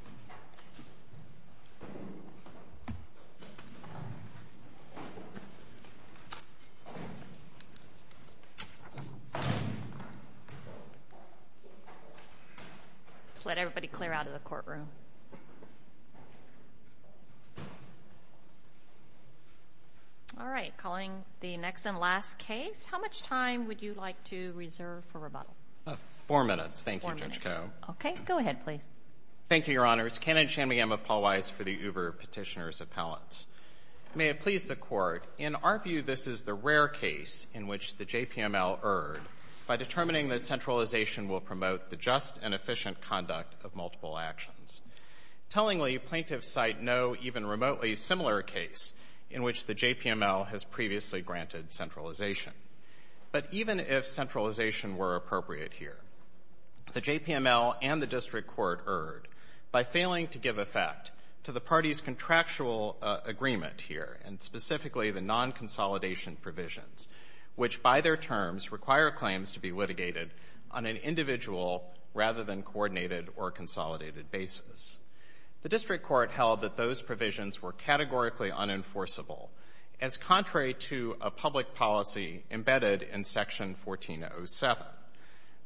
Let's let everybody clear out of the courtroom. All right, calling the next and last case. How much time would you like to reserve for rebuttal? Four minutes. Thank you, Judge Koh. Four minutes. Go ahead, please. Thank you, Your Honors. Ken and Shanmugam of Paul Weiss for the Uber Petitioner's Appellants. May it please the Court, in our view, this is the rare case in which the JPML erred by determining that centralization will promote the just and efficient conduct of multiple actions. Tellingly, plaintiffs cite no even remotely similar case in which the JPML has previously granted centralization. But even if centralization were appropriate here, the JPML and the District Court erred by failing to give effect to the parties' contractual agreement here, and specifically the non-consolidation provisions, which by their terms require claims to be litigated on an individual rather than coordinated or consolidated basis. The District Court held that those provisions were categorically unenforceable as contrary to a public policy embedded in Section 1407.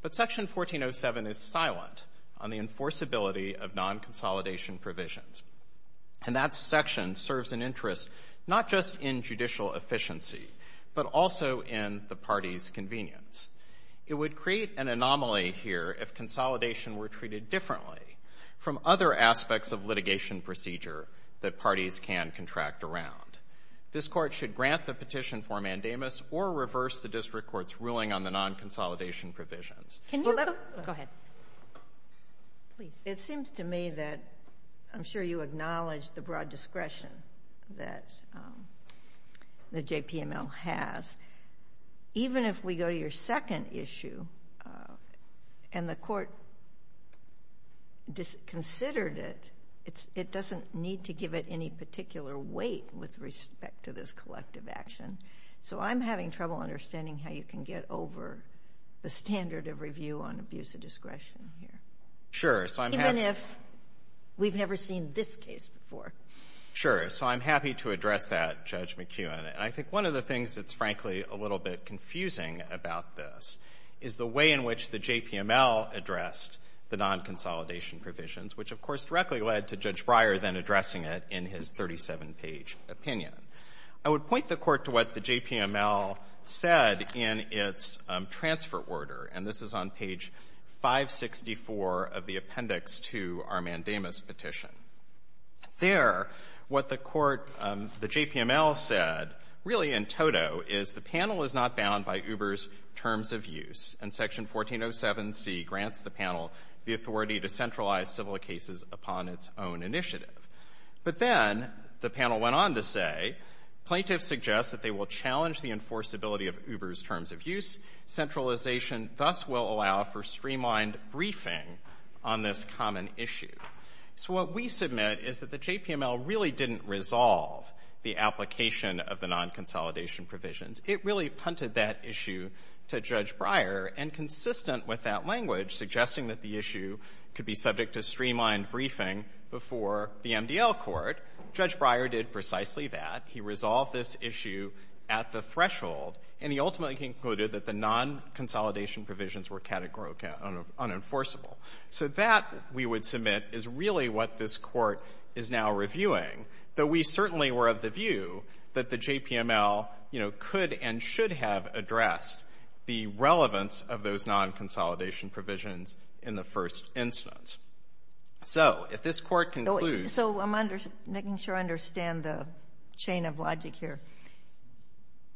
But Section 1407 is silent on the enforceability of non-consolidation provisions. And that section serves an interest not just in judicial efficiency, but also in the parties' convenience. It would create an anomaly here if consolidation were treated differently from other aspects of litigation procedure that parties can contract around. This Court should grant the petition for mandamus or reverse the District Court's ruling on the non-consolidation provisions. Go ahead. Please. It seems to me that I'm sure you acknowledge the broad discretion that the JPML has. Even if we go to your second issue and the Court disconsidered it, it doesn't need to give it any particular weight with respect to this collective action. So, I'm having trouble understanding how you can get over the standard of review on abuse of discretion here. Sure. Even if we've never seen this case before. Sure. So, I'm happy to address that, Judge McKeown. And I think one of the things that's frankly a little bit confusing about this is the way in which the JPML addressed the non-consolidation provisions, which of course directly led to in his 37-page opinion. I would point the Court to what the JPML said in its transfer order, and this is on page 564 of the appendix to our mandamus petition. There, what the Court, the JPML said, really in toto, is the panel is not bound by Uber's terms of use, and Section 1407C grants the panel the authority to centralize civil cases upon its own initiative. But then, the panel went on to say, plaintiffs suggest that they will challenge the enforceability of Uber's terms of use. Centralization thus will allow for streamlined briefing on this common issue. So, what we submit is that the JPML really didn't resolve the application of the non-consolidation provisions. It really punted that issue to Judge Breyer, and consistent with that language, suggesting that the issue could be subject to streamlined briefing before the MDL court, Judge Breyer did precisely that. He resolved this issue at the threshold, and he ultimately concluded that the non-consolidation provisions were categorically unenforceable. So, that, we would submit, is really what this Court is now reviewing, though we certainly were of the view that the JPML, you know, could and should have addressed the relevance of those non-consolidation provisions in the first instance. So, if this Court concludes— So, I'm making sure I understand the chain of logic here.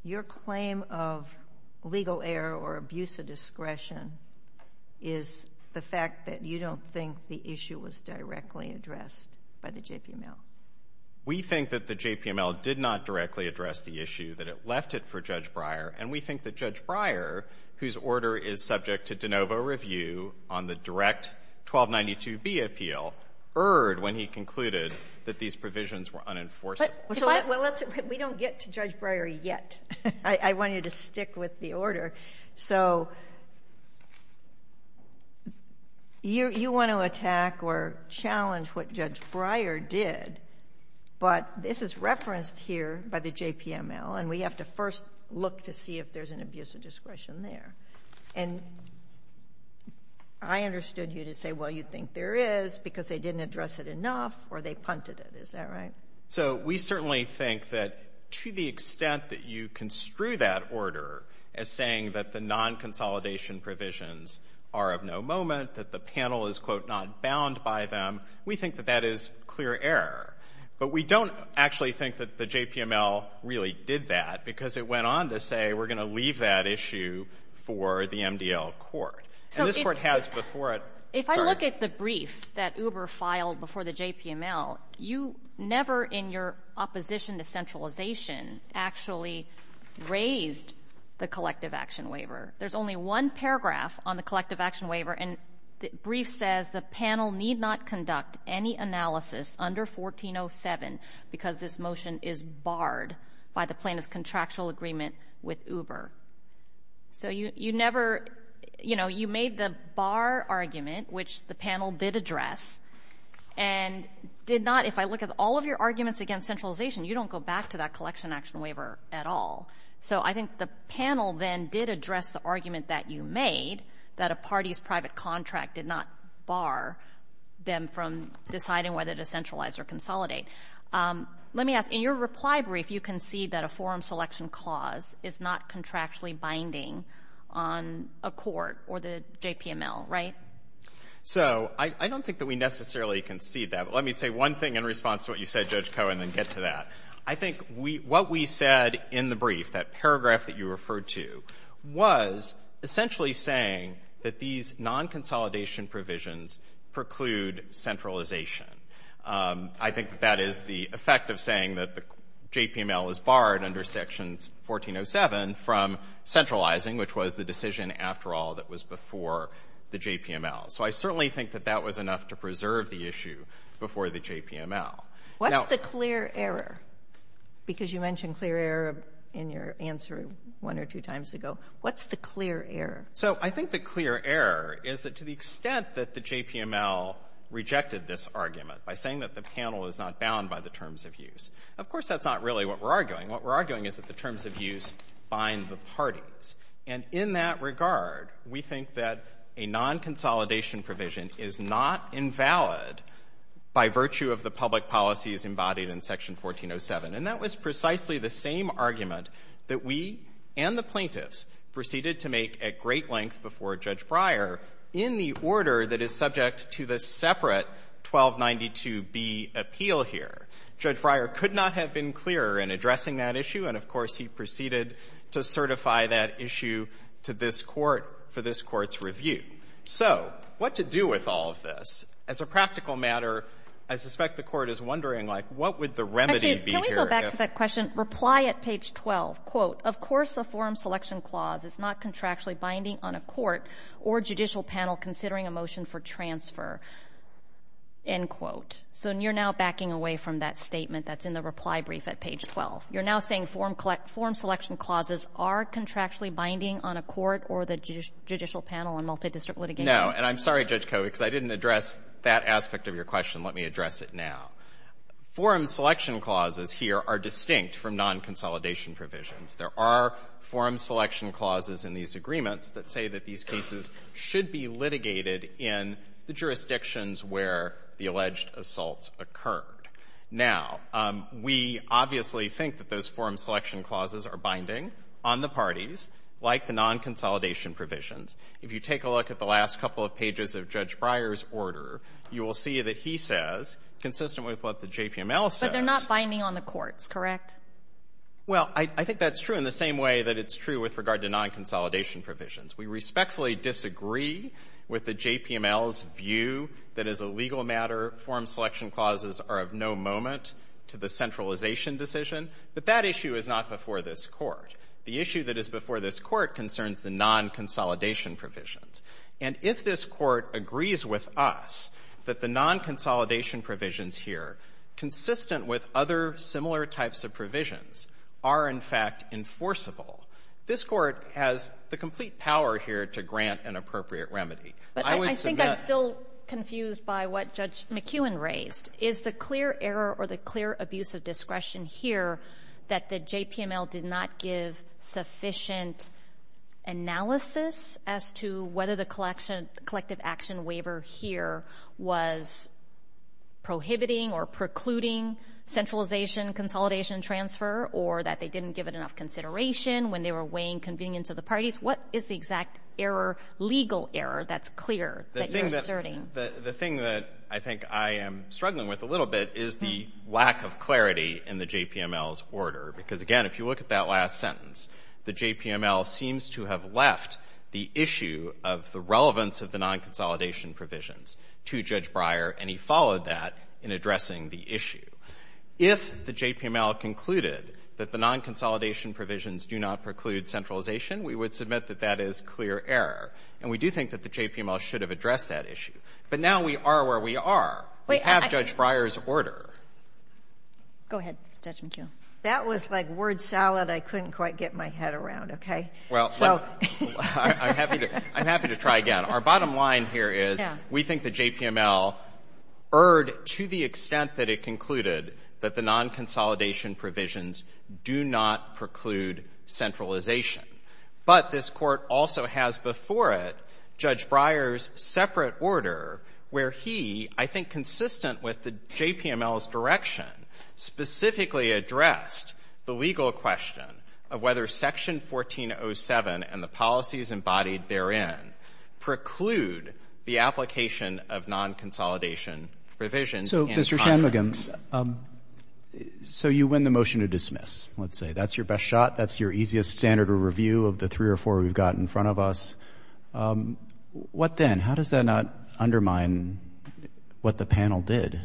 Your claim of legal error or abuse of discretion is the fact that you don't think the issue was directly addressed by the JPML? We think that the JPML did not directly address the issue, that it left it for Judge Breyer, and we think that Judge Breyer, whose order is subject to de novo review on the direct 1292B appeal, erred when he concluded that these provisions were unenforceable. Well, let's, we don't get to Judge Breyer yet. I want you to stick with the order. So, you want to attack or challenge what Judge Breyer did, but this is referenced here by the JPML, and we have to first look to see if there's an abuse of discretion there. And I understood you to say, well, you think there is because they didn't address it enough or they punted it. Is that right? So, we certainly think that to the extent that you construe that order as saying that the non-consolidation provisions are of no moment, that the panel is, quote, not bound by them, we think that that is clear error. But we don't actually think that the JPML really did that because it went on to say we're going to leave that issue for the MDL court. And this court has before it — If I look at the brief that Uber filed before the JPML, you never in your opposition to centralization actually raised the collective action waiver. There's only one paragraph on the collective action waiver, and the brief says, the panel need not conduct any analysis under 1407 because this motion is barred by the plaintiff's contractual agreement with Uber. So, you never — you know, you made the bar argument, which the panel did address, and did not — if I look at all of your arguments against centralization, you don't go back to that collection action waiver at all. So, I think the panel then did address the argument that you made, that a party's private contract did not bar them from deciding whether to centralize or consolidate. Let me ask, in your reply brief, you concede that a forum selection clause is not contractually binding on a court or the JPML, right? So, I don't think that we necessarily concede that. But let me say one thing in response to what you said, Judge Cohen, and then get to that. I think we — what we said in the brief, that paragraph that you referred to, was essentially saying that these non-consolidation provisions preclude centralization. I think that that is the effect of saying that the JPML is barred under Section 1407 from centralizing, which was the decision, after all, that was before the JPML. So, I certainly think that that was enough to preserve the issue before the JPML. Now — What's the clear error? Because you mentioned clear error in your answer one or two times ago. What's the clear error? So, I think the clear error is that to the extent that the JPML rejected this argument by saying that the panel is not bound by the terms of use, of course, that's not really what we're arguing. What we're arguing is that the terms of use bind the parties. And in that regard, we think that a non-consolidation provision is not invalid by virtue of the public policies embodied in Section 1407. And that was precisely the same argument that we and the plaintiffs proceeded to make at great length before Judge Breyer in the order that is subject to the separate 1292B appeal here. Judge Breyer could not have been clearer in addressing that issue, and, of course, he proceeded to certify that issue to this Court for this Court's review. So, what to do with all of this? As a practical matter, I suspect the Court is wondering, like, what would the remedy be here if — Actually, can we go back to that question? Reply at page 12. Quote, of course a form selection clause is not contractually binding on a court or judicial panel considering a motion for transfer. End quote. So, you're now backing away from that statement that's in the reply brief at page 12. You're now saying form selection clauses are contractually binding on a court or the district litigation? And I'm sorry, Judge Koh, because I didn't address that aspect of your question. Let me address it now. Form selection clauses here are distinct from nonconsolidation provisions. There are form selection clauses in these agreements that say that these cases should be litigated in the jurisdictions where the alleged assaults occurred. Now, we obviously think that those form selection clauses are binding on the parties, like the nonconsolidation provisions. If you take a look at the last couple of pages of Judge Breyer's order, you will see that he says, consistent with what the JPML says — But they're not binding on the courts, correct? Well, I think that's true in the same way that it's true with regard to nonconsolidation provisions. We respectfully disagree with the JPML's view that as a legal matter, form selection clauses are of no moment to the centralization decision, but that issue is not before this Court. The issue that is before this Court concerns the nonconsolidation provisions. And if this Court agrees with us that the nonconsolidation provisions here, consistent with other similar types of provisions, are, in fact, enforceable, this Court has the complete power here to grant an appropriate remedy. I would suggest — But I think I'm still confused by what Judge McKeown raised. Is the clear error or the clear abuse of discretion here that the JPML did not give sufficient analysis as to whether the collection — collective action waiver here was prohibiting or precluding centralization, consolidation, and transfer, or that they didn't give it enough consideration when they were weighing convenience of the parties? What is the exact error, legal error, that's clear that you're asserting? The thing that I think I am struggling with a little bit is the lack of clarity in the JPML's order. Because, again, if you look at that last sentence, the JPML seems to have left the issue of the relevance of the nonconsolidation provisions to Judge Breyer, and he followed that in addressing the issue. If the JPML concluded that the nonconsolidation provisions do not preclude centralization, we would submit that that is clear error. And we do think that the JPML should have addressed that issue. But now we are where we are. We have Judge Breyer's order. Go ahead, Judge McKeown. That was like word salad I couldn't quite get my head around, okay? Well, I'm happy to try again. Our bottom line here is we think the JPML erred to the extent that it concluded that the nonconsolidation provisions do not preclude centralization. But this Court also has before it Judge Breyer's separate order where he, I think consistent with the JPML's direction, specifically addressed the legal question of whether Section 1407 and the policies embodied therein preclude the application of nonconsolidation provisions and contracts. So, Mr. Shanmugam, so you win the motion to dismiss, let's say. That's your best guess. I think it's fair to review of the three or four we've got in front of us. What then? How does that not undermine what the panel did?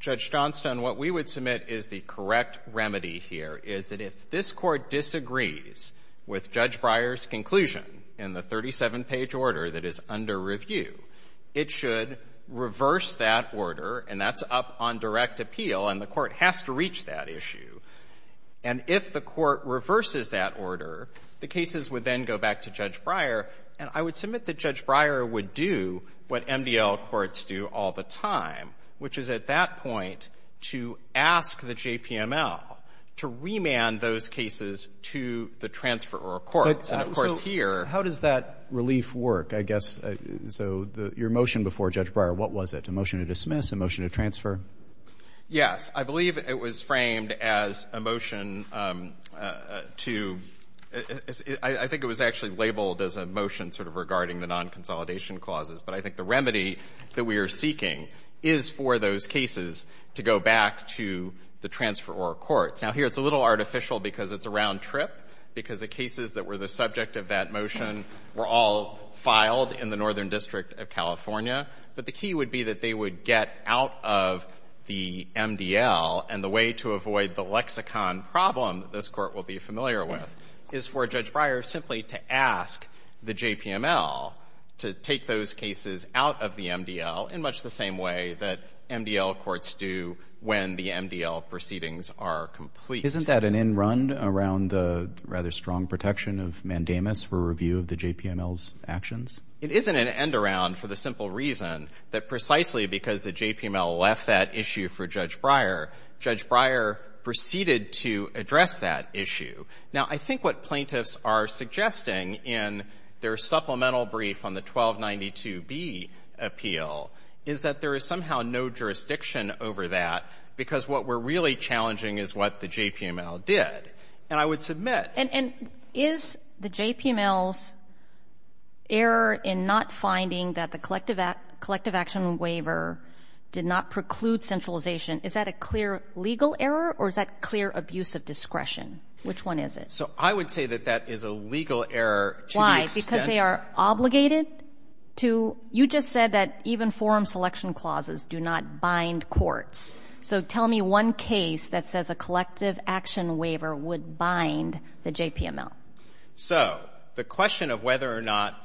Judge Johnston, what we would submit is the correct remedy here, is that if this Court disagrees with Judge Breyer's conclusion in the 37-page order that is under review, it should reverse that order, and that's up on direct appeal, and the Court reverses that order, the cases would then go back to Judge Breyer. And I would submit that Judge Breyer would do what MDL courts do all the time, which is at that point to ask the JPML to remand those cases to the transferor courts. And, of course, here — So how does that relief work, I guess? So your motion before Judge Breyer, what was it, a motion to dismiss, a motion to transfer? Yes. I believe it was framed as a motion to — I think it was actually labeled as a motion sort of regarding the non-consolidation clauses. But I think the remedy that we are seeking is for those cases to go back to the transferor courts. Now, here it's a little artificial because it's a round trip, because the cases that were the subject of that motion were all filed in the Northern District of the MDL. And the way to avoid the lexicon problem that this Court will be familiar with is for Judge Breyer simply to ask the JPML to take those cases out of the MDL in much the same way that MDL courts do when the MDL proceedings are complete. Isn't that an end-run around the rather strong protection of mandamus for review of the JPML's actions? It isn't an end-around for the simple reason that precisely because the JPML left that issue for Judge Breyer, Judge Breyer proceeded to address that issue. Now, I think what plaintiffs are suggesting in their supplemental brief on the 1292B appeal is that there is somehow no jurisdiction over that, because what we're really challenging is what the JPML did. And I would submit — And is the JPML's error in not finding that the collective action waiver did not preclude centralization, is that a clear legal error or is that clear abuse of discretion? Which one is it? So I would say that that is a legal error to the extent — Why? Because they are obligated to — you just said that even forum selection clauses do not bind courts. So tell me one case that says a collective action waiver would bind the JPML. So the question of whether or not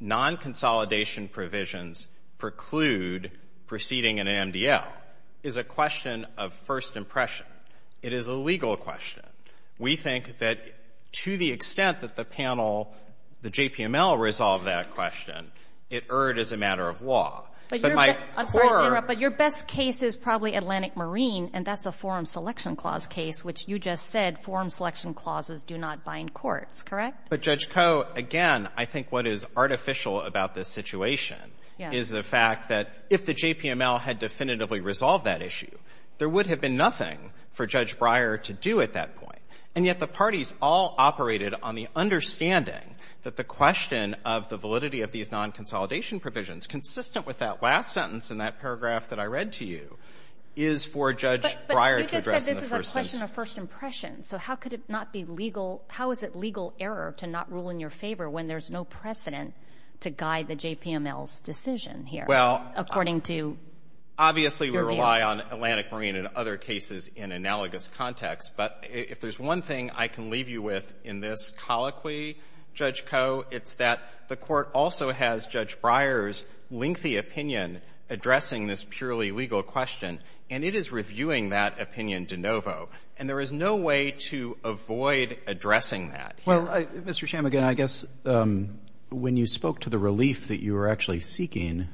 non-consolidation provisions preclude proceeding in an MDL is a question of first impression. It is a legal question. We think that to the extent that the panel — the JPML resolved that question, it erred as a matter of law. But my core — I'm sorry to interrupt, but your best case is probably Atlantic Marine, and that's a forum selection clause case, which you just said forum selection clauses do not bind courts, correct? But, Judge Koh, again, I think what is artificial about this situation is the fact that if the JPML had definitively resolved that issue, there would have been nothing for Judge Breyer to do at that point. And yet the parties all operated on the understanding that the question of the validity of these non-consolidation provisions, consistent with that last sentence in that paragraph that I read to you, is for Judge Breyer to address in the first instance. But you just said this is a question of first impression. So how could it not be legal — how is it legal error to not rule in your favor when there's no precedent to guide the JPML's decision here, according to your view? Well, obviously, we rely on Atlantic Marine and other cases in analogous context. But if there's one thing I can leave you with in this colloquy, Judge Koh, it's that the Court also has Judge Breyer's lengthy opinion addressing this purely legal question, and it is reviewing that opinion de novo. And there is no way to avoid addressing that here. Well, Mr. Chamigan, I guess when you spoke to the relief that you were actually seeking,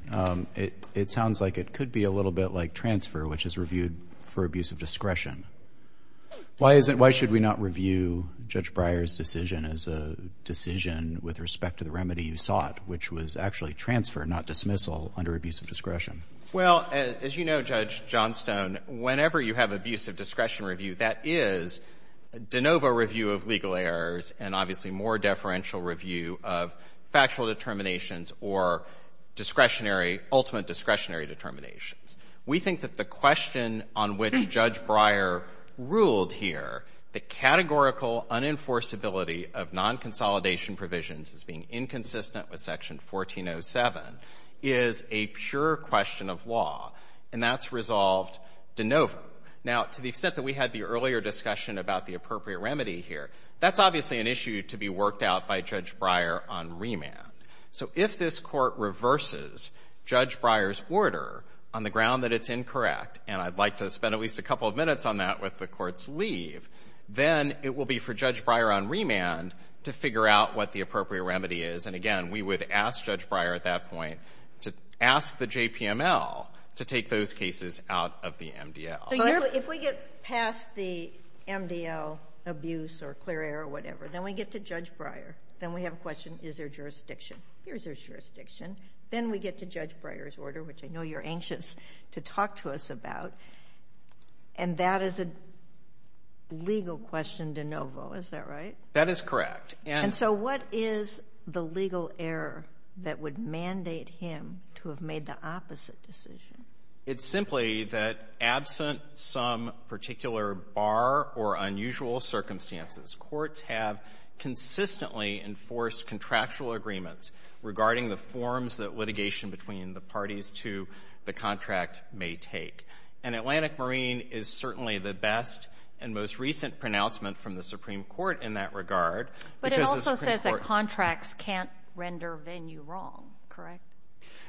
it sounds like it could be a little bit like transfer, which is reviewed for abuse of discretion. Why is it — why should we not review Judge Breyer's decision as a decision with respect to the remedy you sought, which was actually transfer, not dismissal, under abuse of discretion? Well, as you know, Judge Johnstone, whenever you have abuse of discretion review, that is de novo review of legal errors and obviously more deferential review of factual determinations or discretionary — ultimate discretionary determinations. We think that the question on which Judge Breyer ruled here, the categorical unenforceability of non-consolidation provisions as being inconsistent with Section 1407, is a pure question of law, and that's resolved de novo. Now, to the extent that we had the earlier discussion about the appropriate remedy here, that's obviously an issue to be worked out by Judge Breyer on remand. So if this Court reverses Judge Breyer's order on the ground that it's incorrect — and I'd like to spend at least a couple of minutes on that with the Court's leave — then it will be for Judge Breyer on remand to figure out what the appropriate remedy is, and then ask Judge Breyer at that point to ask the JPML to take those cases out of the MDL. But if we get past the MDL abuse or clear error or whatever, then we get to Judge Breyer. Then we have a question, is there jurisdiction? Here's your jurisdiction. Then we get to Judge Breyer's order, which I know you're anxious to talk to us about, and that is a legal question de novo. Is that right? That is correct. And so what is the legal error that would mandate him to have made the opposite decision? It's simply that absent some particular bar or unusual circumstances, courts have consistently enforced contractual agreements regarding the forms that litigation between the parties to the contract may take. And Atlantic Marine is certainly the best and most recent pronouncement from the Supreme Court in that regard because the Supreme Court — But it also says that contracts can't render venue wrong, correct?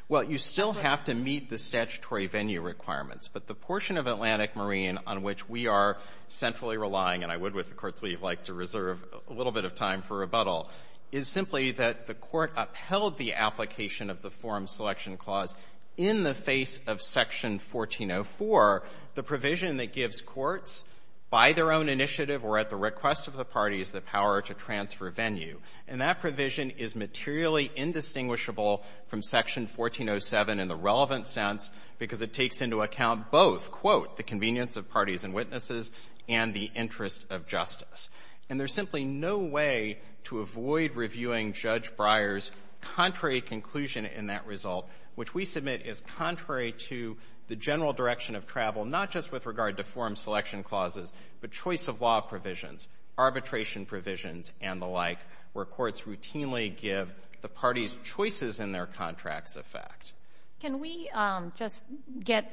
Well, you still have to meet the statutory venue requirements. But the portion of Atlantic Marine on which we are centrally relying, and I would with the Court's leave like to reserve a little bit of time for rebuttal, is simply that the Court upheld the application of the Forum Selection Clause in the face of Section 1404, the provision that gives courts by their own initiative or at the request of the parties the power to transfer venue. And that provision is materially indistinguishable from Section 1407 in the relevant sense because it takes into account both, quote, the convenience of parties and witnesses and the interest of justice. And there's simply no way to avoid reviewing Judge Breyer's contrary conclusion in that result, which we submit is contrary to the general direction of travel, not just with regard to Forum Selection Clauses, but choice of law provisions, arbitration provisions, and the like, where courts routinely give the parties choices in their contracts effect. Can we just get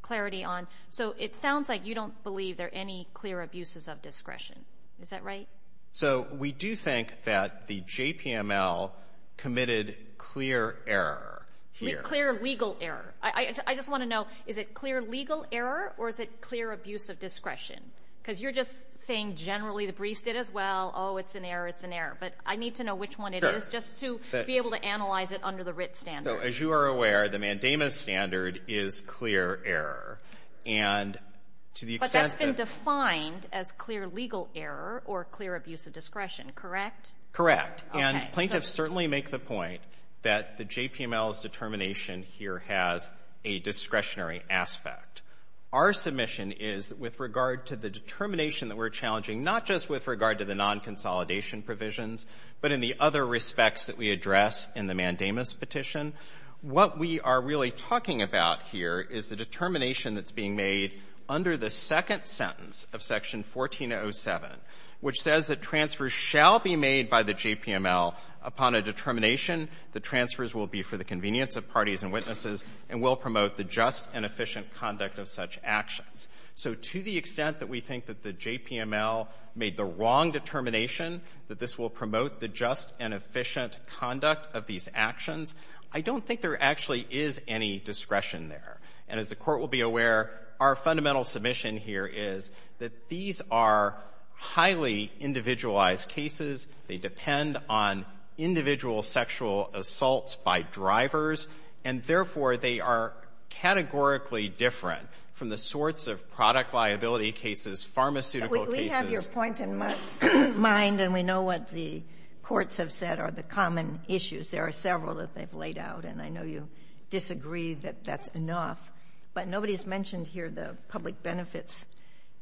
clarity on — so it sounds like you don't believe there are any clear abuses of discretion. Is that right? So we do think that the JPML committed clear error here. Clear legal error. I just want to know, is it clear legal error or is it clear abuse of discretion? Because you're just saying generally the briefs did as well. Oh, it's an error, it's an error. But I need to know which one it is just to be able to analyze it under the Writ standard. As you are aware, the Mandamus standard is clear error. And to the extent that — But that's been defined as clear legal error or clear abuse of discretion, correct? Correct. And plaintiffs certainly make the point that the JPML's determination here has a discretionary aspect. Our submission is that with regard to the determination that we're challenging, not just with regard to the nonconsolidation provisions, but in the other respects that we address in the Mandamus petition, what we are really talking about here is the determination that's being made under the second sentence of Section 1407, which says that transfers shall be made by the JPML upon a determination that transfers will be for the convenience of parties and witnesses and will promote the just and efficient conduct of such actions. So to the extent that we think that the JPML made the wrong determination, that this will promote the just and efficient conduct of these actions, I don't think there actually is any discretion there. And as the Court will be aware, our fundamental submission here is that these are highly individualized cases. They depend on individual sexual assaults by drivers. And therefore, they are categorically different from the sorts of product liability cases, pharmaceutical cases — But we have your point in mind, and we know what the courts have said are the common issues. There are several that they've laid out, and I know you disagree that that's enough. But nobody's mentioned here the public benefits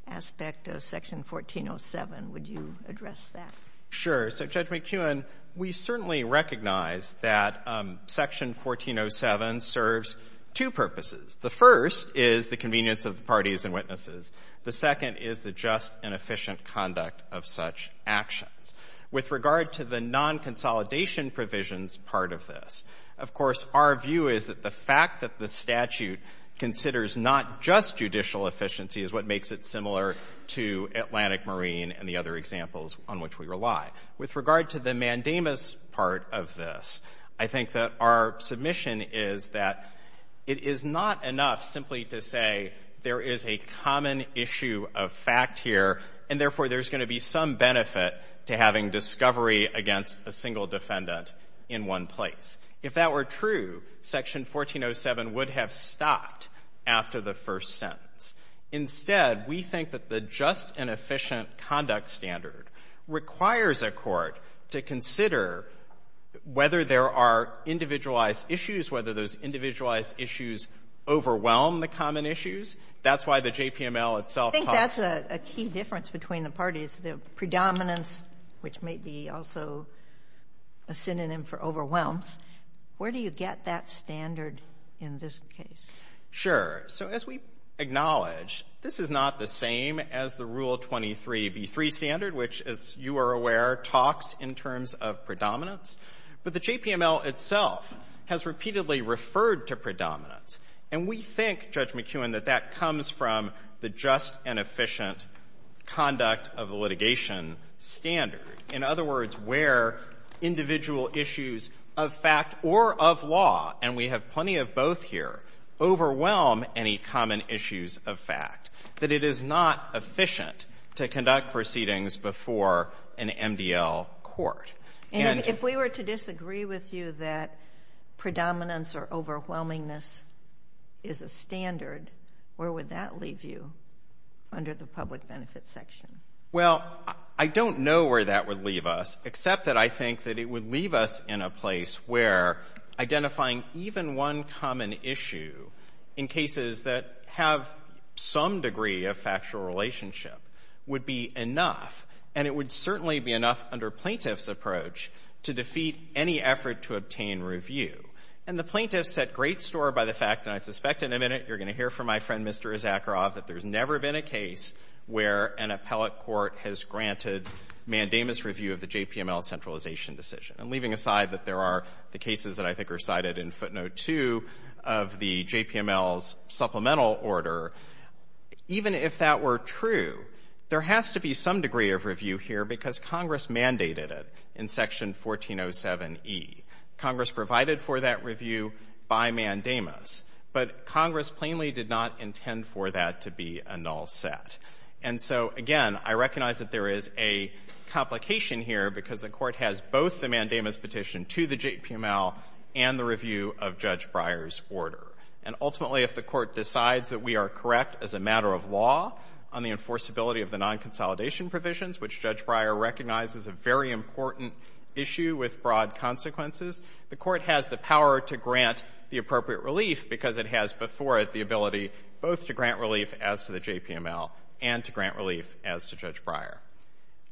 aspect of Section 1407. Would you address that? Sure. So, Judge McKeown, we certainly recognize that Section 1407 serves two purposes. The first is the convenience of the parties and witnesses. The second is the just and efficient conduct of such actions. With regard to the non-consolidation provisions part of this, of course, our view is that the fact that the statute considers not just judicial efficiency is what makes it similar to Atlantic Marine and the other examples on which we rely. With regard to the mandamus part of this, I think that our submission is that it is not enough simply to say there is a common issue of fact here, and therefore, there's going to be some benefit to having discovery against a single defendant in one place. If that were true, Section 1407 would have stopped after the first sentence. Instead, we think that the just and efficient conduct standard requires a court to consider whether there are individualized issues, whether those individualized issues overwhelm the common issues. That's why the JPML itself talks I think that's a key difference between the parties, the predominance, which may be also a synonym for overwhelms. Where do you get that standard in this case? Sure. So as we acknowledge, this is not the same as the Rule 23b3 standard, which, as you are aware, talks in terms of predominance. But the JPML itself has repeatedly referred to predominance. And we think, Judge McKeown, that that comes from the just and efficient conduct of the litigation standard. In other words, where individual issues of fact or of law, and we have plenty of both here, overwhelm any common issues of fact. That it is not efficient to conduct proceedings before an MDL court. And if we were to disagree with you that predominance or overwhelmingness is a standard, where would that leave you under the public a place where identifying even one common issue in cases that have some degree of factual relationship would be enough, and it would certainly be enough under plaintiff's approach to defeat any effort to obtain review. And the plaintiffs set great store by the fact, and I suspect in a minute you're going to hear from my friend, Mr. Issacharoff, that there's never been a case where an appellate court has granted mandamus review of the JPML centralization decision. And leaving aside that there are the cases that I think are cited in footnote 2 of the JPML's supplemental order, even if that were true, there has to be some degree of review here because Congress mandated it in section 1407E. Congress provided for that review by mandamus, but Congress plainly did not intend for that to be a null set. And so, again, I recognize that there is a complication here because the Court has both the mandamus petition to the JPML and the review of Judge Breyer's order. And ultimately, if the Court recognizes a very important issue with broad consequences, the Court has the power to grant the appropriate relief because it has before it the ability both to grant relief as to the JPML and to grant relief as to Judge Breyer.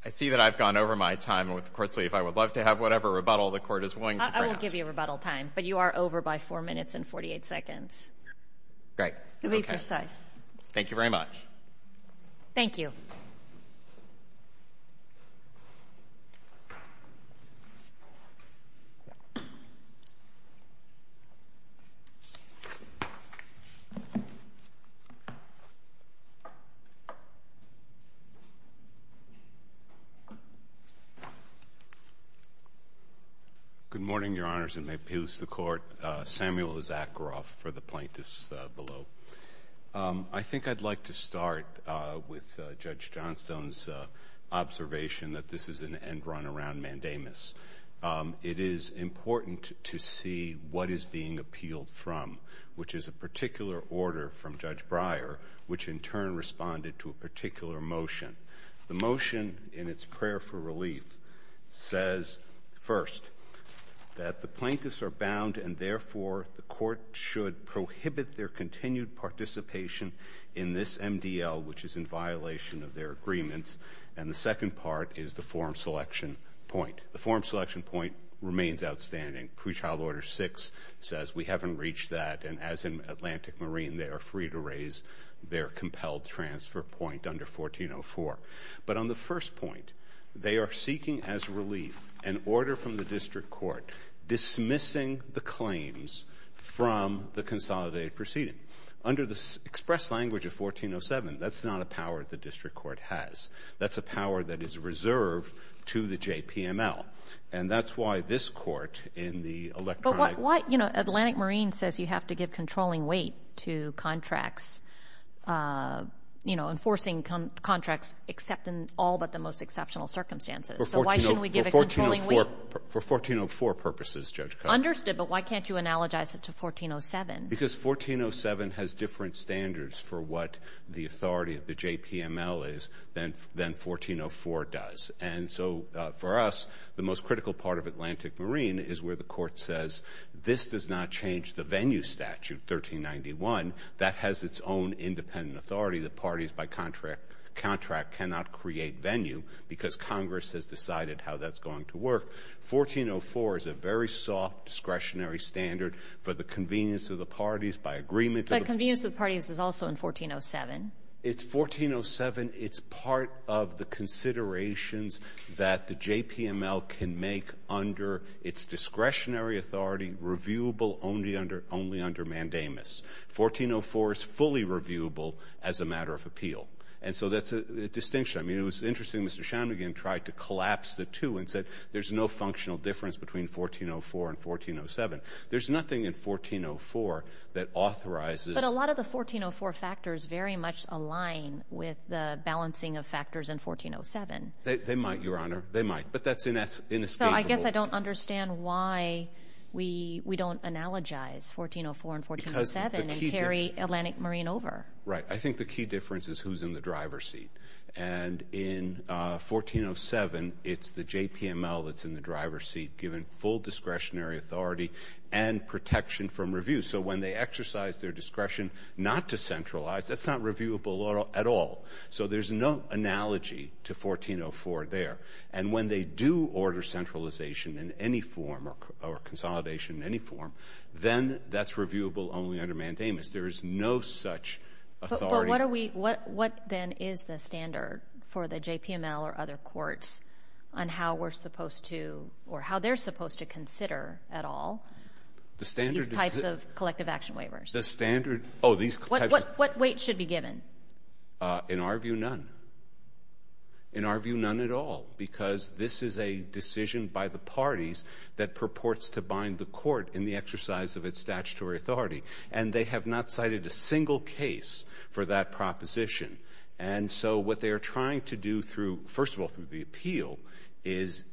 I see that I've gone over my time, and with the Court's leave, I would love to have whatever rebuttal the Court is willing to grant. I will give you rebuttal time, but you are over by 4 minutes and 48 seconds. Great. You'll be precise. Thank you very much. Thank you. Good morning, Your Honors, and may it appease the Court. Samuel Izakroff for the plaintiffs below. I think I'd like to start with Judge Johnstone's observation that this is an end run around mandamus. It is important to see what is being appealed from, which is a particular order from Judge Breyer, which in turn responded to a particular motion. The motion in its prayer for relief says, first, that the plaintiffs are bound and therefore the Court should prohibit their continued participation in this MDL, which is in violation of their agreements. And the second part is the form selection point. The form selection point remains outstanding. Pre-trial Order 6 says we haven't reached that, and as in Atlantic Marine, they are free to raise their compelled transfer point under 1404. But on the first point, they are seeking as relief an order from the District Court dismissing the claims from the consolidated proceeding. Under the express language of 1407, that's not a power the District Court has. That's a power that is reserved to the JPML. And that's why this Court in the electronic ---- But why, you know, Atlantic Marine says you have to give controlling weight to contracts, you know, enforcing contracts except in all but the most exceptional circumstances. So why shouldn't we give a controlling weight? For 1404 purposes, Judge Kagan. Understood, but why can't you analogize it to 1407? Because 1407 has different standards for what the authority of the JPML is than 1404 does. And so for us, the most critical part of Atlantic Marine is where the Court says this does not change the venue statute, 1391. That has its own independent authority. The parties by contract cannot create venue because Congress has decided how that's going to work. 1404 is a very soft discretionary standard for the convenience of the parties by agreement. But convenience of the parties is also in 1407. It's 1407. It's part of the considerations that the JPML can make under its discretionary authority reviewable only under mandamus. 1404 is fully reviewable as a matter of appeal. And so that's a distinction. I mean, it was interesting Mr. Shanmugam tried to collapse the two and said there's no functional difference between 1404 and 1407. There's nothing in 1404 that authorizes ---- But a lot of the 1404 factors very much align with the balancing of factors in 1407. They might, Your Honor. They might. But that's inescapable. So I guess I don't understand why we don't analogize 1404 and 1407 and carry Atlantic Marine over. Right. I think the key difference is who's in the driver's seat. And in 1407, it's the JPML that's in the driver's seat given full discretionary authority and protection from review. So when they exercise their discretion not to centralize, that's not reviewable at all. So there's no analogy to 1404 there. And when they do order centralization in any form or consolidation in any form, then that's reviewable only under mandamus. There is no such authority. But what then is the standard for the JPML or other courts on how we're supposed to or how they're supposed to consider at all these types of collective action waivers? The standard ---- What weight should be given? In our view, none. In our view, none at all, because this is a decision by the parties that purports to bind the court in the exercise of its statutory authority. And they have not cited a single case for that proposition. And so what they are trying to do through, first of all, through the appeal, is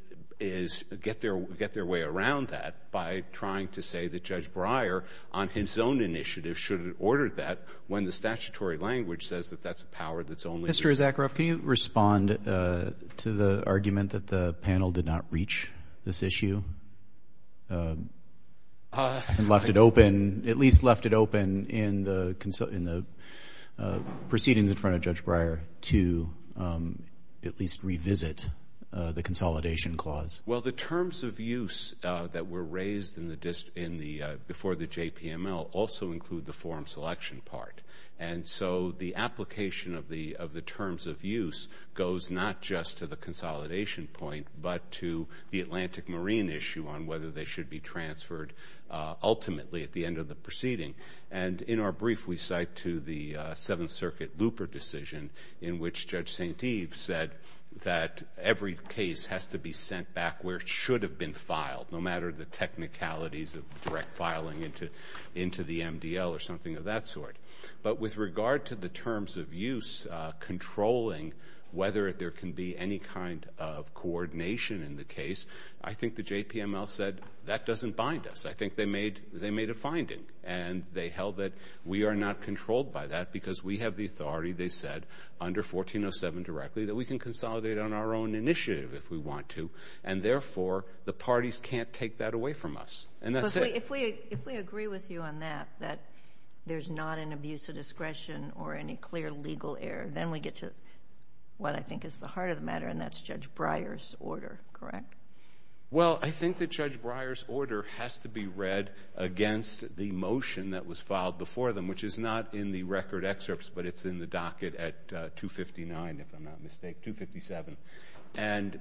get their way around that by trying to say that Judge Breyer, on his own initiative, should have ordered that when the statutory language says that that's a power that's only ---- Mr. Zakharoff, can you respond to the argument that the panel did not reach this issue and left it open, at least left it open in the proceedings in front of Judge Breyer to at least revisit the consolidation clause? Well, the terms of use that were raised before the JPML also include the form selection part. And so the application of the terms of use goes not just to the consolidation point but to the Atlantic Marine issue on whether they should be transferred ultimately at the end of the proceeding. And in our brief, we cite to the Seventh Circuit looper decision in which Judge St. Eve said that every case has to be sent back where it should have been filed, no matter the technicalities of direct filing into the MDL or something of that sort. But with regard to the terms of use controlling whether there can be any kind of coordination in the case, I think the JPML said that doesn't bind us. I think they made a finding, and they held that we are not controlled by that because we have the authority, they said, under 1407 directly, that we can consolidate on our own initiative if we want to, and therefore the parties can't take that away from us. If we agree with you on that, that there's not an abuse of discretion or any clear legal error, then we get to what I think is the heart of the matter, and that's Judge Breyer's order, correct? Well, I think that Judge Breyer's order has to be read against the motion that was filed before them, which is not in the record excerpts, but it's in the docket at 259, if I'm not mistaken, 257. And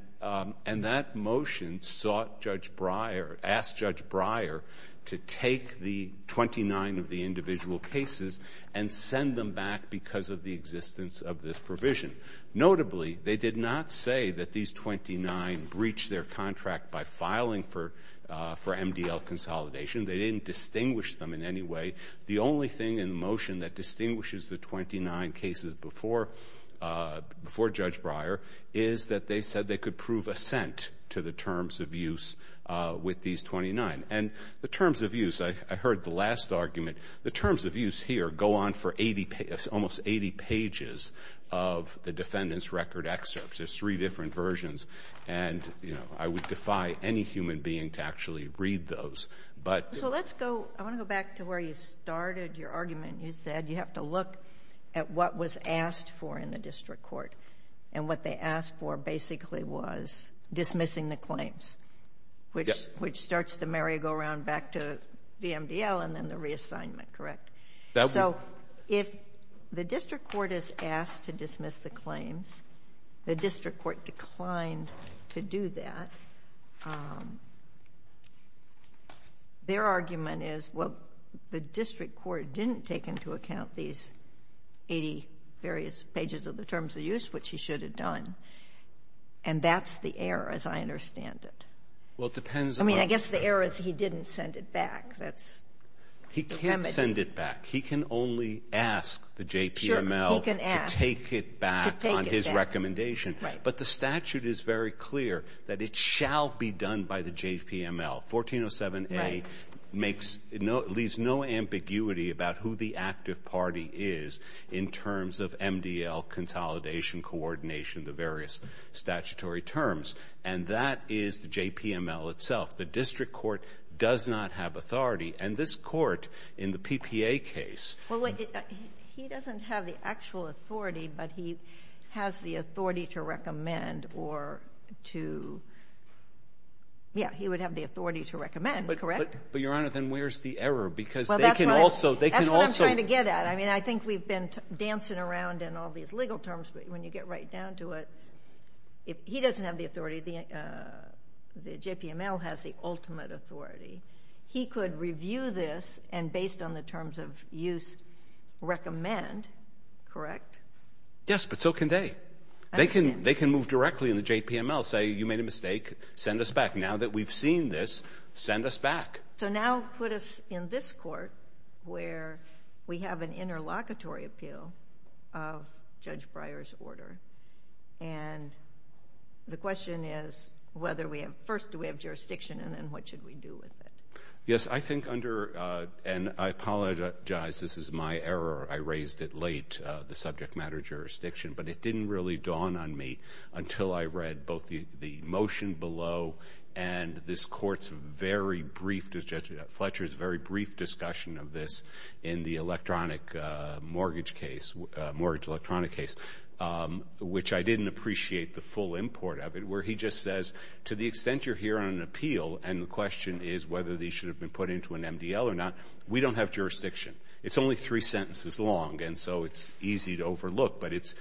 that motion sought Judge Breyer, asked Judge Breyer to take the 29 of the individual cases and send them back because of the existence of this provision. Notably, they did not say that these 29 breached their contract by filing for MDL consolidation. They didn't distinguish them in any way. The only thing in the motion that distinguishes the 29 cases before Judge Breyer is that they said they could prove assent to the terms of use with these 29. And the terms of use, I heard the last argument, the terms of use here go on for almost 80 pages of the defendant's record excerpts. There's three different versions, and I would defy any human being to actually read those. So let's go, I want to go back to where you started your argument. You said you have to look at what was asked for in the district court, and what they asked for basically was dismissing the claims, which starts the merry-go-round back to the MDL and then the reassignment, correct? So if the district court is asked to dismiss the claims, the district court declined to do that. Their argument is, well, the district court didn't take into account these 80 various pages of the terms of use, which he should have done, and that's the error as I understand it. Well, it depends on what you're saying. I mean, I guess the error is he didn't send it back. He can't send it back. He can only ask the JPML to take it back on his recommendation. But the statute is very clear that it shall be done by the JPML. 1407A leaves no ambiguity about who the active party is in terms of MDL consolidation, coordination, the various statutory terms, and that is the JPML itself. The district court does not have authority, and this court in the PPA case. Well, wait. He doesn't have the actual authority, but he has the authority to recommend or to ‑‑ yeah, he would have the authority to recommend, correct? But, Your Honor, then where's the error? Because they can also ‑‑ Well, that's what I'm trying to get at. I mean, I think we've been dancing around in all these legal terms, but when you get right down to it, he doesn't have the authority. The JPML has the ultimate authority. He could review this and, based on the terms of use, recommend, correct? Yes, but so can they. They can move directly in the JPML, say, you made a mistake, send us back. Now that we've seen this, send us back. So now put us in this court where we have an interlocutory appeal of Judge Breyer's order, and the question is whether we have ‑‑ first, do we have jurisdiction, and then what should we do with it? Yes, I think under, and I apologize, this is my error. I raised it late, the subject matter jurisdiction, but it didn't really dawn on me until I read both the motion below and this court's very brief, Fletcher's very brief discussion of this in the electronic mortgage case, mortgage electronic case, which I didn't appreciate the full import of it, where he just says, to the extent you're here on an appeal, and the question is whether these should have been put into an MDL or not, we don't have jurisdiction. It's only three sentences long, and so it's easy to overlook, but it's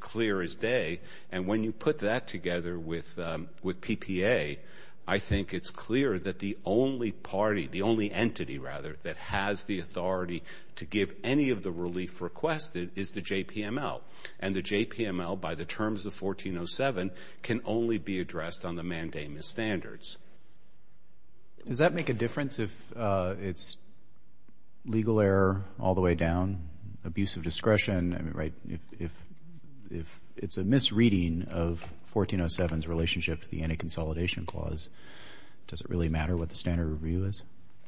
clear as day, and when you put that together with PPA, I think it's clear that the only party, the only entity, rather, that has the authority to give any of the relief requested is the JPML, and the JPML, by the terms of 1407, can only be addressed on the mandamus standards. Does that make a difference if it's legal error all the way down, abuse of discretion, right? If it's a misreading of 1407's relationship to the anti‑consolidation clause, does it really matter what the standard review is?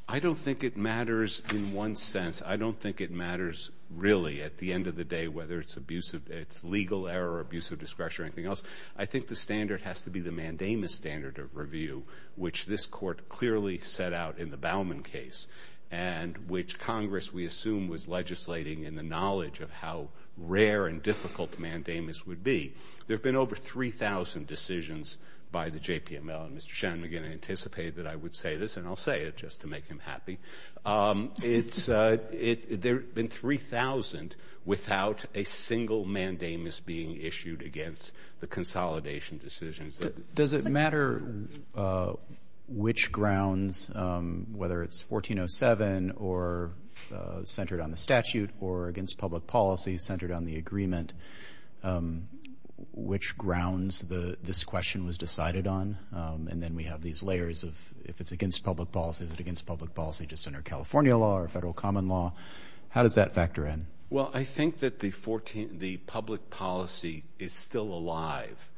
I don't think it matters in one sense. I don't think it matters, really, at the end of the day, whether it's legal error or abuse of discretion or anything else. I think the standard has to be the mandamus standard of review, which this court clearly set out in the Bauman case, and which Congress, we assume, was legislating in the knowledge of how rare and difficult mandamus would be. There have been over 3,000 decisions by the JPML, and Mr. Shanmugam anticipated I would say this, and I'll say it just to make him happy. There have been 3,000 without a single mandamus being issued against the consolidation decisions. Does it matter which grounds, whether it's 1407 or centered on the statute or against public policy, centered on the agreement, which grounds this question was decided on? And then we have these layers of if it's against public policy, is it against public policy just under California law or federal common law? How does that factor in? Well, I think that the public policy is still alive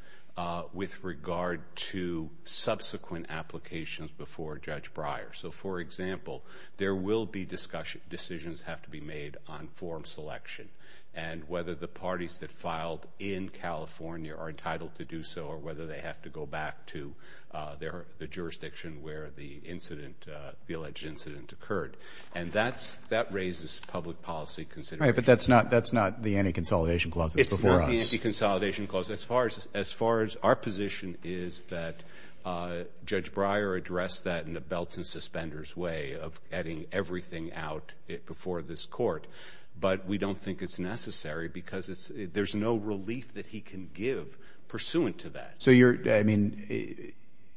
with regard to subsequent applications before Judge Breyer. So, for example, there will be decisions have to be made on form selection and whether the parties that filed in California are entitled to do so or whether they have to go back to the jurisdiction where the incident, the alleged incident occurred. And that raises public policy considerations. Right, but that's not the anti-consolidation clause that's before us. It's not the anti-consolidation clause. As far as our position is that Judge Breyer addressed that in a belts and suspenders way of adding everything out before this court, but we don't think it's necessary because there's no relief that he can give pursuant to that. So, I mean,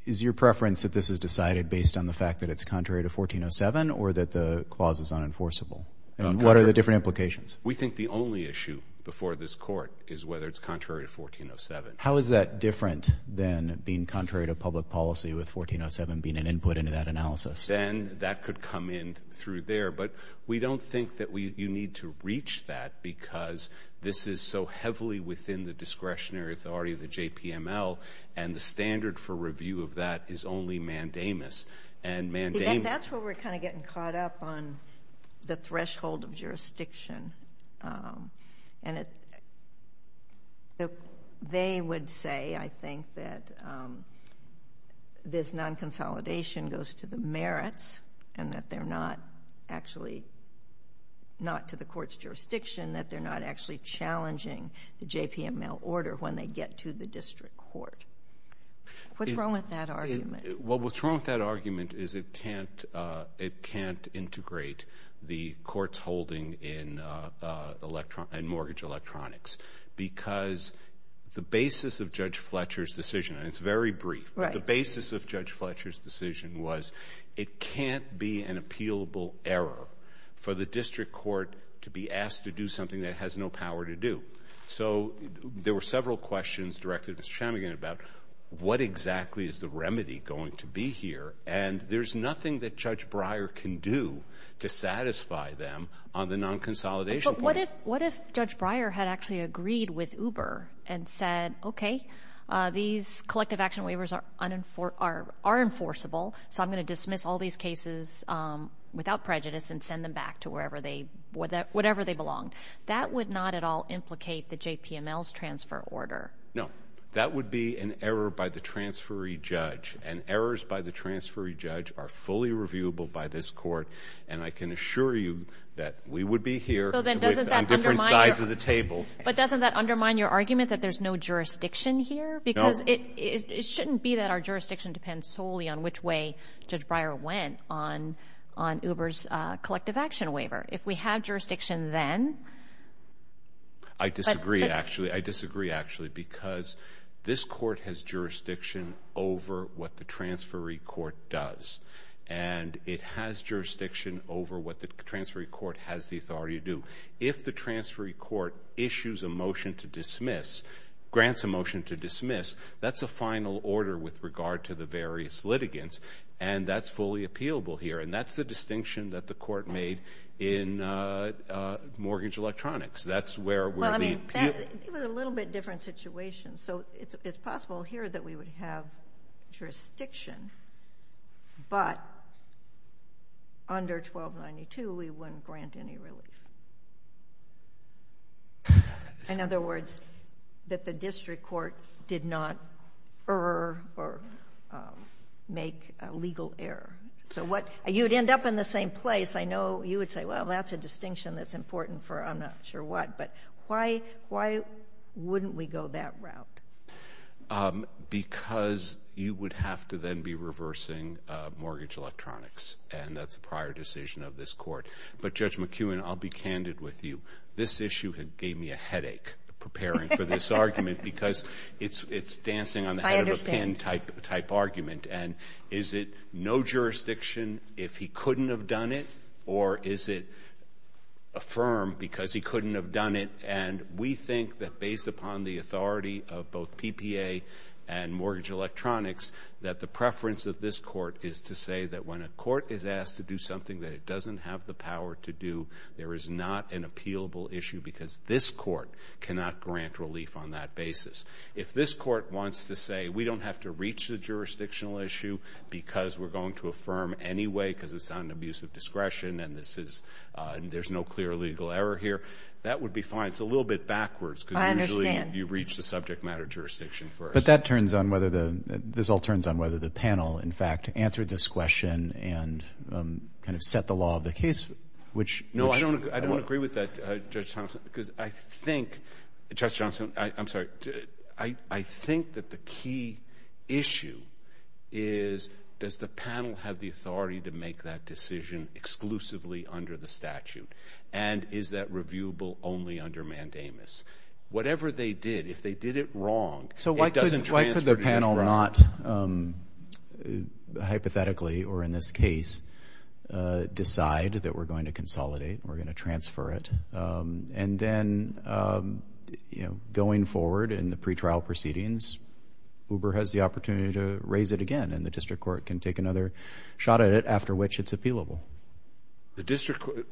is your preference that this is decided based on the fact that it's contrary to 1407 or that the clause is unenforceable? And what are the different implications? We think the only issue before this court is whether it's contrary to 1407. How is that different than being contrary to public policy with 1407 being an input into that analysis? Then that could come in through there, but we don't think that you need to reach that because this is so heavily within the discretionary authority of the JPML and the standard for review of that is only mandamus. That's where we're kind of getting caught up on the threshold of jurisdiction. And they would say, I think, that this non-consolidation goes to the merits and that they're not actually not to the court's jurisdiction, that they're not actually challenging the JPML order when they get to the district court. What's wrong with that argument? What's wrong with that argument is it can't integrate the court's holding in mortgage electronics because the basis of Judge Fletcher's decision, and it's very brief, but the basis of Judge Fletcher's decision was it can't be an appealable error for the district court to be asked to do something that it has no power to do. So there were several questions directed at Mr. Chamigan about what exactly is the remedy going to be here, and there's nothing that Judge Breyer can do to satisfy them on the non-consolidation point. But what if Judge Breyer had actually agreed with Uber and said, okay, these collective action waivers are enforceable, so I'm going to dismiss all these cases without prejudice and send them back to whatever they belong. That would not at all implicate the JPML's transfer order. No. That would be an error by the transferee judge, and errors by the transferee judge are fully reviewable by this court, and I can assure you that we would be here on different sides of the table. But doesn't that undermine your argument that there's no jurisdiction here? No. Because it shouldn't be that our jurisdiction depends solely on which way Judge Breyer went on Uber's collective action waiver. If we have jurisdiction then... I disagree, actually. I disagree, actually, because this court has jurisdiction over what the transferee court does, and it has jurisdiction over what the transferee court has the authority to do. If the transferee court issues a motion to dismiss, grants a motion to dismiss, that's a final order with regard to the various litigants, and that's fully appealable here, and that's the distinction that the court made in mortgage electronics. It was a little bit different situation. So it's possible here that we would have jurisdiction, but under 1292 we wouldn't grant any relief. In other words, that the district court did not err or make a legal error. So you would end up in the same place. I know you would say, well, that's a distinction that's important for I'm not sure what. But why wouldn't we go that route? Because you would have to then be reversing mortgage electronics, and that's a prior decision of this court. But, Judge McEwen, I'll be candid with you. This issue gave me a headache preparing for this argument because it's dancing on the head of a pin type argument. And is it no jurisdiction if he couldn't have done it, or is it affirm because he couldn't have done it? And we think that based upon the authority of both PPA and mortgage electronics that the preference of this court is to say that when a court is asked to do something that it doesn't have the power to do, there is not an appealable issue because this court cannot grant relief on that basis. If this court wants to say we don't have to reach the jurisdictional issue because we're going to affirm anyway because it's not an abuse of discretion and there's no clear legal error here, that would be fine. It's a little bit backwards because usually you reach the subject matter jurisdiction first. But that turns on whether the panel, in fact, answered this question and kind of set the law of the case, which – No, I don't agree with that, Judge Thompson, because I think – Judge Thompson, I'm sorry, I think that the key issue is does the panel have the authority to make that decision exclusively under the statute and is that reviewable only under mandamus? Whatever they did, if they did it wrong, it doesn't transfer to this trial. So why could the panel not hypothetically or in this case decide that we're going to consolidate and we're going to transfer it? And then, you know, going forward in the pretrial proceedings, Uber has the opportunity to raise it again and the district court can take another shot at it after which it's appealable.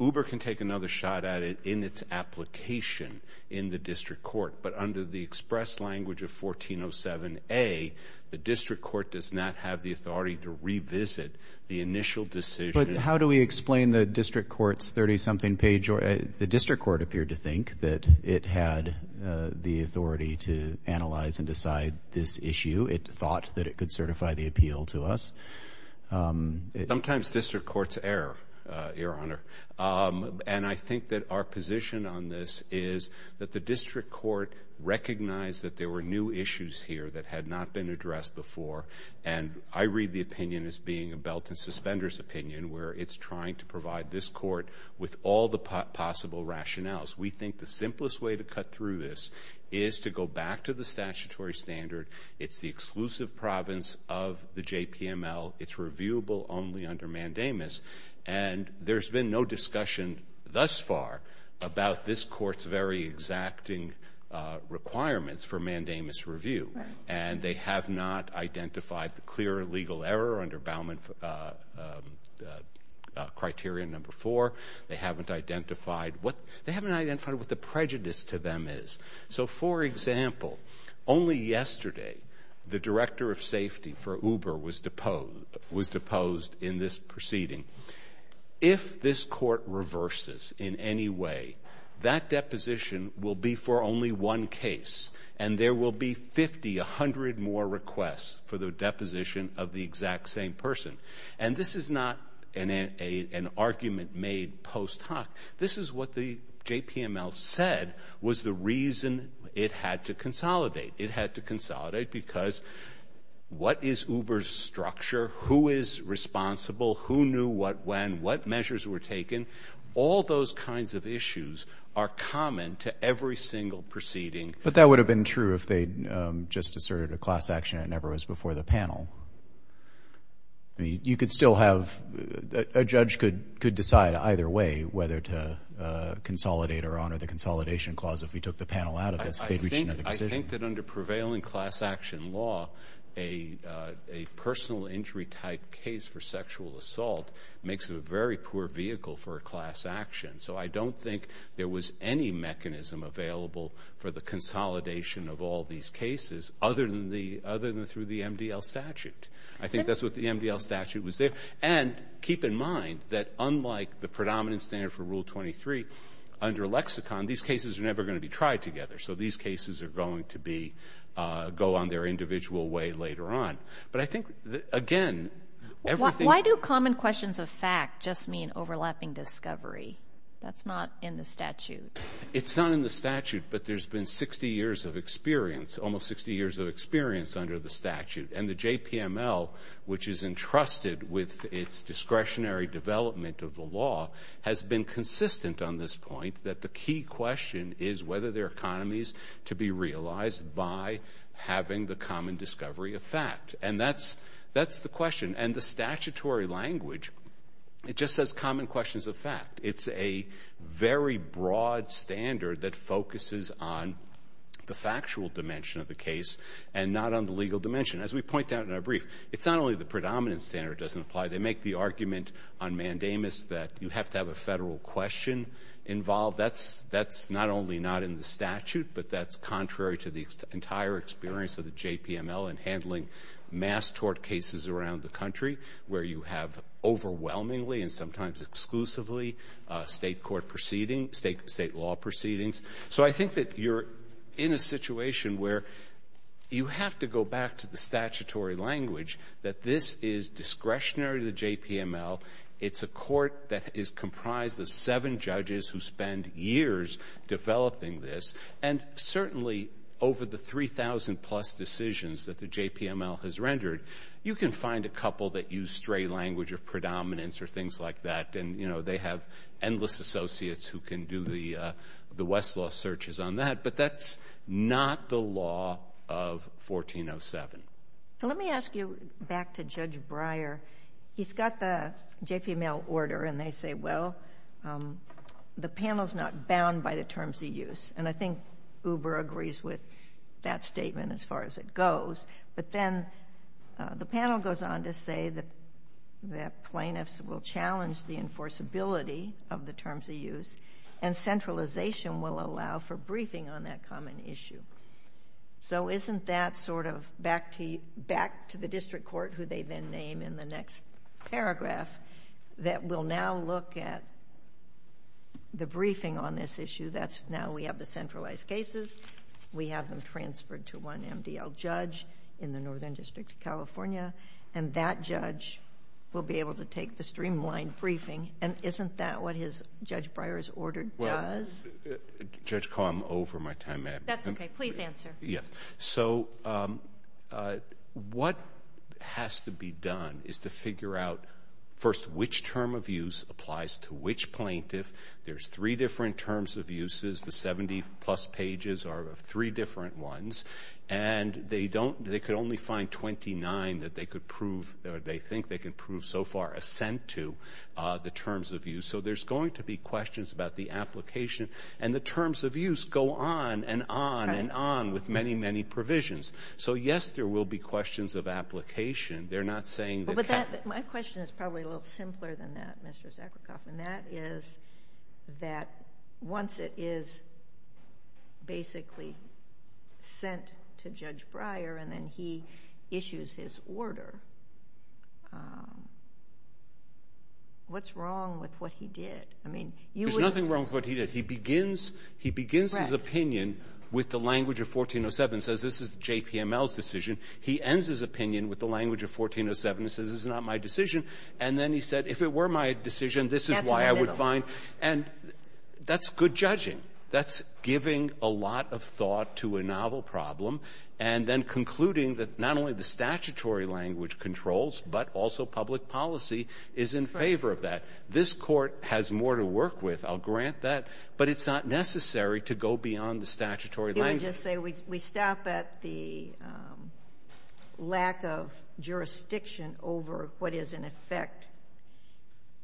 Uber can take another shot at it in its application in the district court, but under the express language of 1407A, the district court does not have the authority to revisit the initial decision. But how do we explain the district court's 30-something page? The district court appeared to think that it had the authority to analyze and decide this issue. It thought that it could certify the appeal to us. Sometimes district courts err, Your Honor, and I think that our position on this is that the district court recognized that there were new issues here that had not been addressed before, and I read the opinion as being a belt-and-suspenders opinion where it's trying to provide this court with all the possible rationales. We think the simplest way to cut through this is to go back to the statutory standard. It's the exclusive province of the JPML. It's reviewable only under mandamus, and there's been no discussion thus far about this court's very exacting requirements for mandamus review. And they have not identified the clear legal error under Bauman Criterion No. 4. They haven't identified what the prejudice to them is. So, for example, only yesterday the director of safety for Uber was deposed in this proceeding. If this court reverses in any way, that deposition will be for only one case, and there will be 50, 100 more requests for the deposition of the exact same person. And this is not an argument made post hoc. This is what the JPML said was the reason it had to consolidate. It had to consolidate because what is Uber's structure? Who is responsible? Who knew what when? What measures were taken? All those kinds of issues are common to every single proceeding. But that would have been true if they just asserted a class action and it never was before the panel. I mean, you could still have a judge could decide either way whether to consolidate or honor the consolidation clause if we took the panel out of this. I think that under prevailing class action law, a personal injury type case for sexual assault makes it a very poor vehicle for a class action. So I don't think there was any mechanism available for the consolidation of all these cases other than through the MDL statute. I think that's what the MDL statute was there. And keep in mind that unlike the predominant standard for Rule 23, under lexicon, these cases are never going to be tried together. So these cases are going to go on their individual way later on. But I think, again, everything... Why do common questions of fact just mean overlapping discovery? That's not in the statute. It's not in the statute, but there's been 60 years of experience, almost 60 years of experience under the statute. And the JPML, which is entrusted with its discretionary development of the law, has been consistent on this point that the key question is whether there are economies to be realized by having the common discovery of fact. And that's the question. And the statutory language, it just says common questions of fact. It's a very broad standard that focuses on the factual dimension of the case and not on the legal dimension. As we point out in our brief, it's not only the predominant standard doesn't apply. They make the argument on mandamus that you have to have a federal question involved. That's not only not in the statute, but that's contrary to the entire experience of the JPML in handling mass tort cases around the country, where you have overwhelmingly and sometimes exclusively state law proceedings. So I think that you're in a situation where you have to go back to the statutory language that this is discretionary to the JPML. It's a court that is comprised of seven judges who spend years developing this. And certainly over the 3,000-plus decisions that the JPML has rendered, you can find a couple that use stray language of predominance or things like that. And, you know, they have endless associates who can do the Westlaw searches on that. But that's not the law of 1407. Let me ask you back to Judge Breyer. He's got the JPML order, and they say, well, the panel's not bound by the terms of use. And I think Uber agrees with that statement as far as it goes. But then the panel goes on to say that plaintiffs will challenge the enforceability of the terms of use and centralization will allow for briefing on that common issue. So isn't that sort of back to the district court, who they then name in the next paragraph, that we'll now look at the briefing on this issue. That's now we have the centralized cases. We have them transferred to one MDL judge in the Northern District of California. And that judge will be able to take the streamlined briefing. And isn't that what Judge Breyer's order does? Judge, I'm over my time. That's okay. Please answer. So what has to be done is to figure out, first, which term of use applies to which plaintiff. There's three different terms of uses. The 70-plus pages are three different ones. And they could only find 29 that they think they can prove so far assent to the terms of use. So there's going to be questions about the application. And the terms of use go on and on and on with many, many provisions. So, yes, there will be questions of application. They're not saying that they can't. But my question is probably a little simpler than that, Mr. Zuckerkopf, and that is that once it is basically sent to Judge Breyer and then he issues his order, what's wrong with what he did? There's nothing wrong with what he did. He begins his opinion with the language of 1407 and says, this is JPML's decision. He ends his opinion with the language of 1407 and says, this is not my decision. And then he said, if it were my decision, this is why I would find. And that's good judging. That's giving a lot of thought to a novel problem and then concluding that not only the statutory language controls, but also public policy is in favor of that. This Court has more to work with. I'll grant that. But it's not necessary to go beyond the statutory language. You want to just say we stop at the lack of jurisdiction over what is, in effect,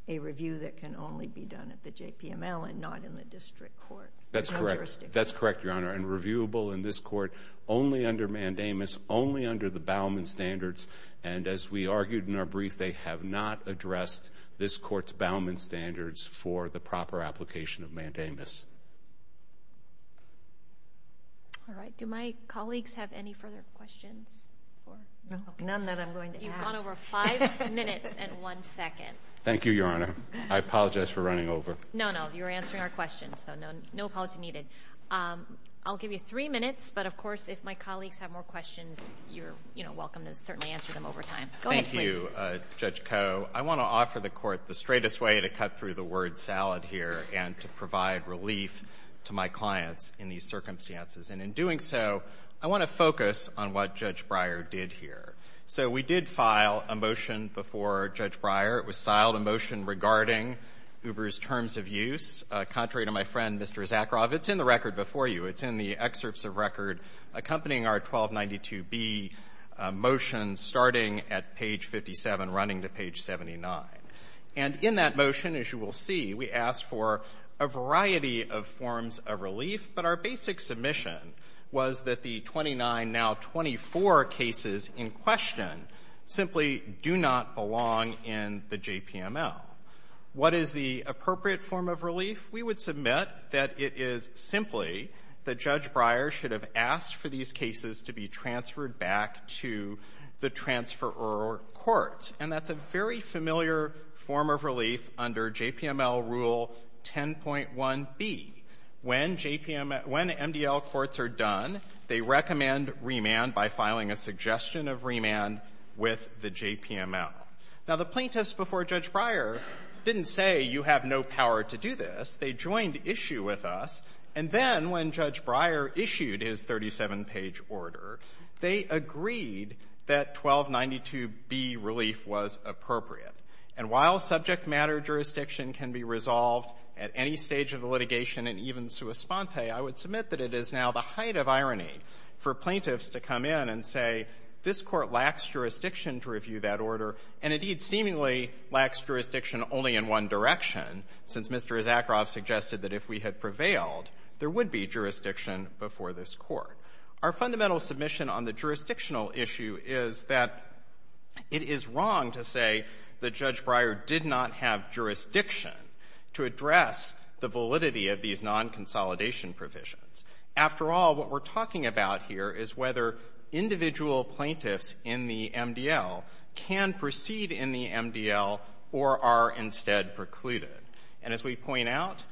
a review that can only be done at the JPML and not in the district court? That's correct. That's correct, Your Honor. And reviewable in this Court only under mandamus, only under the Bauman Standards. And as we argued in our brief, they have not addressed this Court's Bauman Standards for the proper application of mandamus. All right. Do my colleagues have any further questions? None that I'm going to ask. You've gone over five minutes and one second. Thank you, Your Honor. I apologize for running over. No, no. You were answering our questions, so no apology needed. I'll give you three minutes, but, of course, if my colleagues have more questions, you're welcome to certainly answer them over time. Go ahead, please. Thank you, Judge Koh. I want to offer the Court the straightest way to cut through the word salad here and to provide relief to my clients in these circumstances. And in doing so, I want to focus on what Judge Breyer did here. So we did file a motion before Judge Breyer. It was filed a motion regarding Uber's terms of use. Contrary to my friend, Mr. Zakharov, it's in the record before you. It's in the excerpts of record accompanying our 1292B motion starting at page 57, running to page 79. And in that motion, as you will see, we asked for a variety of forms of relief, but our basic submission was that the 29, now 24, cases in question simply do not belong in the JPML. What is the appropriate form of relief? We would submit that it is simply that Judge Breyer should have asked for these cases to be transferred back to the transferor courts. And that's a very familiar form of relief under JPML Rule 10.1B. When MDL courts are done, they recommend remand by filing a suggestion of remand with the JPML. Now, the plaintiffs before Judge Breyer didn't say you have no power to do this. They joined issue with us, and then when Judge Breyer issued his 37-page order, they agreed that 1292B relief was appropriate. And while subject matter jurisdiction can be resolved at any stage of the litigation and even sua sponte, I would submit that it is now the height of irony for plaintiffs to come in and say this Court lacks jurisdiction to review that order and, indeed, seemingly lacks jurisdiction only in one direction, since Mr. Zakharov suggested that if we had prevailed, there would be jurisdiction before this Court. Our fundamental submission on the jurisdictional issue is that it is wrong to say that Judge Breyer did not have jurisdiction to address the validity of these non-consolidation provisions. After all, what we're talking about here is whether individual plaintiffs in the MDL can proceed in the MDL or are instead precluded. And as we point out,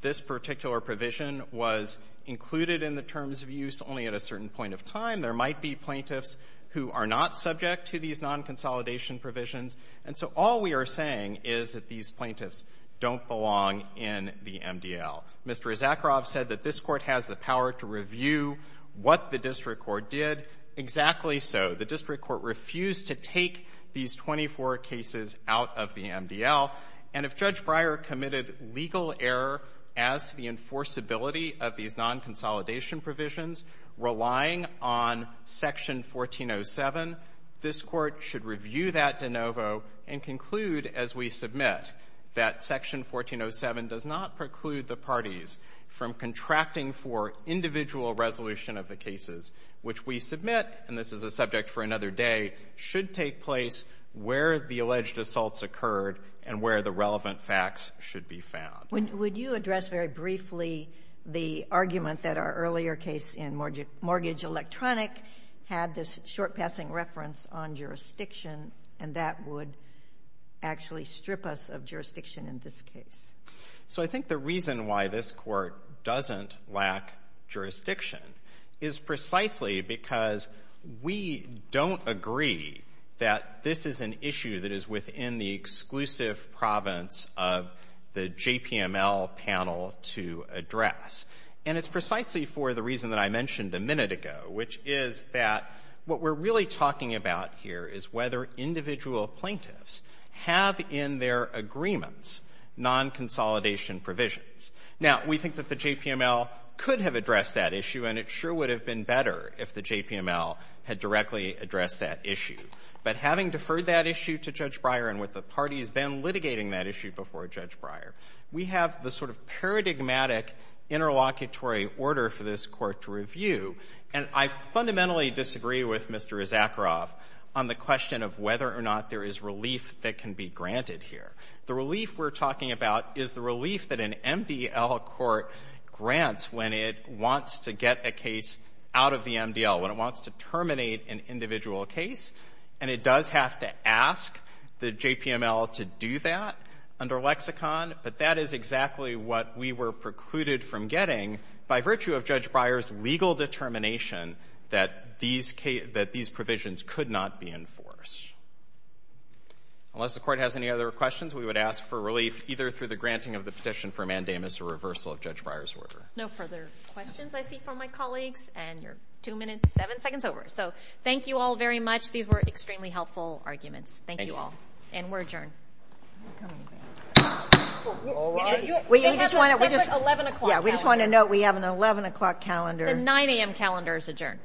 this particular provision was included in the terms of use only at a certain point of time. There might be plaintiffs who are not subject to these non-consolidation provisions, and so all we are saying is that these plaintiffs don't belong in the MDL. Mr. Zakharov said that this Court has the power to review what the district court did, exactly so. The district court refused to take these 24 cases out of the MDL. And if Judge Breyer committed legal error as to the enforceability of these non-consolidation provisions, relying on Section 1407, this Court should review that de novo and conclude as we submit that Section 1407 does not preclude the parties from contracting for individual resolution of the cases, which we submit, and this is a subject for another day, should take place where the alleged assaults occurred and where the relevant facts should be found. Would you address very briefly the argument that our earlier case in Mortgage Electronic had this short-passing reference on jurisdiction and that would actually strip us of jurisdiction in this case? So I think the reason why this Court doesn't lack jurisdiction is precisely because we don't agree that this is an issue that is within the exclusive province of the JPML panel to address. And it's precisely for the reason that I mentioned a minute ago, which is that what we're really talking about here is whether individual plaintiffs have in their agreements non-consolidation provisions. Now, we think that the JPML could have addressed that issue, and it sure would have been better if the JPML had directly addressed that issue. But having deferred that issue to Judge Breyer and with the parties then litigating that issue before Judge Breyer, we have the sort of paradigmatic interlocutory order for this Court to review. And I fundamentally disagree with Mr. Zakharov on the question of whether or not there is relief that can be granted here. The relief we're talking about is the relief that an MDL court grants when it wants to get a case out of the MDL, when it wants to terminate an individual case. And it does have to ask the JPML to do that under lexicon, but that is exactly what we were precluded from getting by virtue of Judge Breyer's legal determination that these provisions could not be enforced. Unless the Court has any other questions, we would ask for relief either through the granting of the petition for mandamus or reversal of Judge Breyer's order. No further questions I see from my colleagues. And you're two minutes, seven seconds over. So thank you all very much. These were extremely helpful arguments. Thank you all. And we're adjourned. They have a separate 11 o'clock calendar. We just want to note we have an 11 o'clock calendar. The 9 a.m. calendar is adjourned.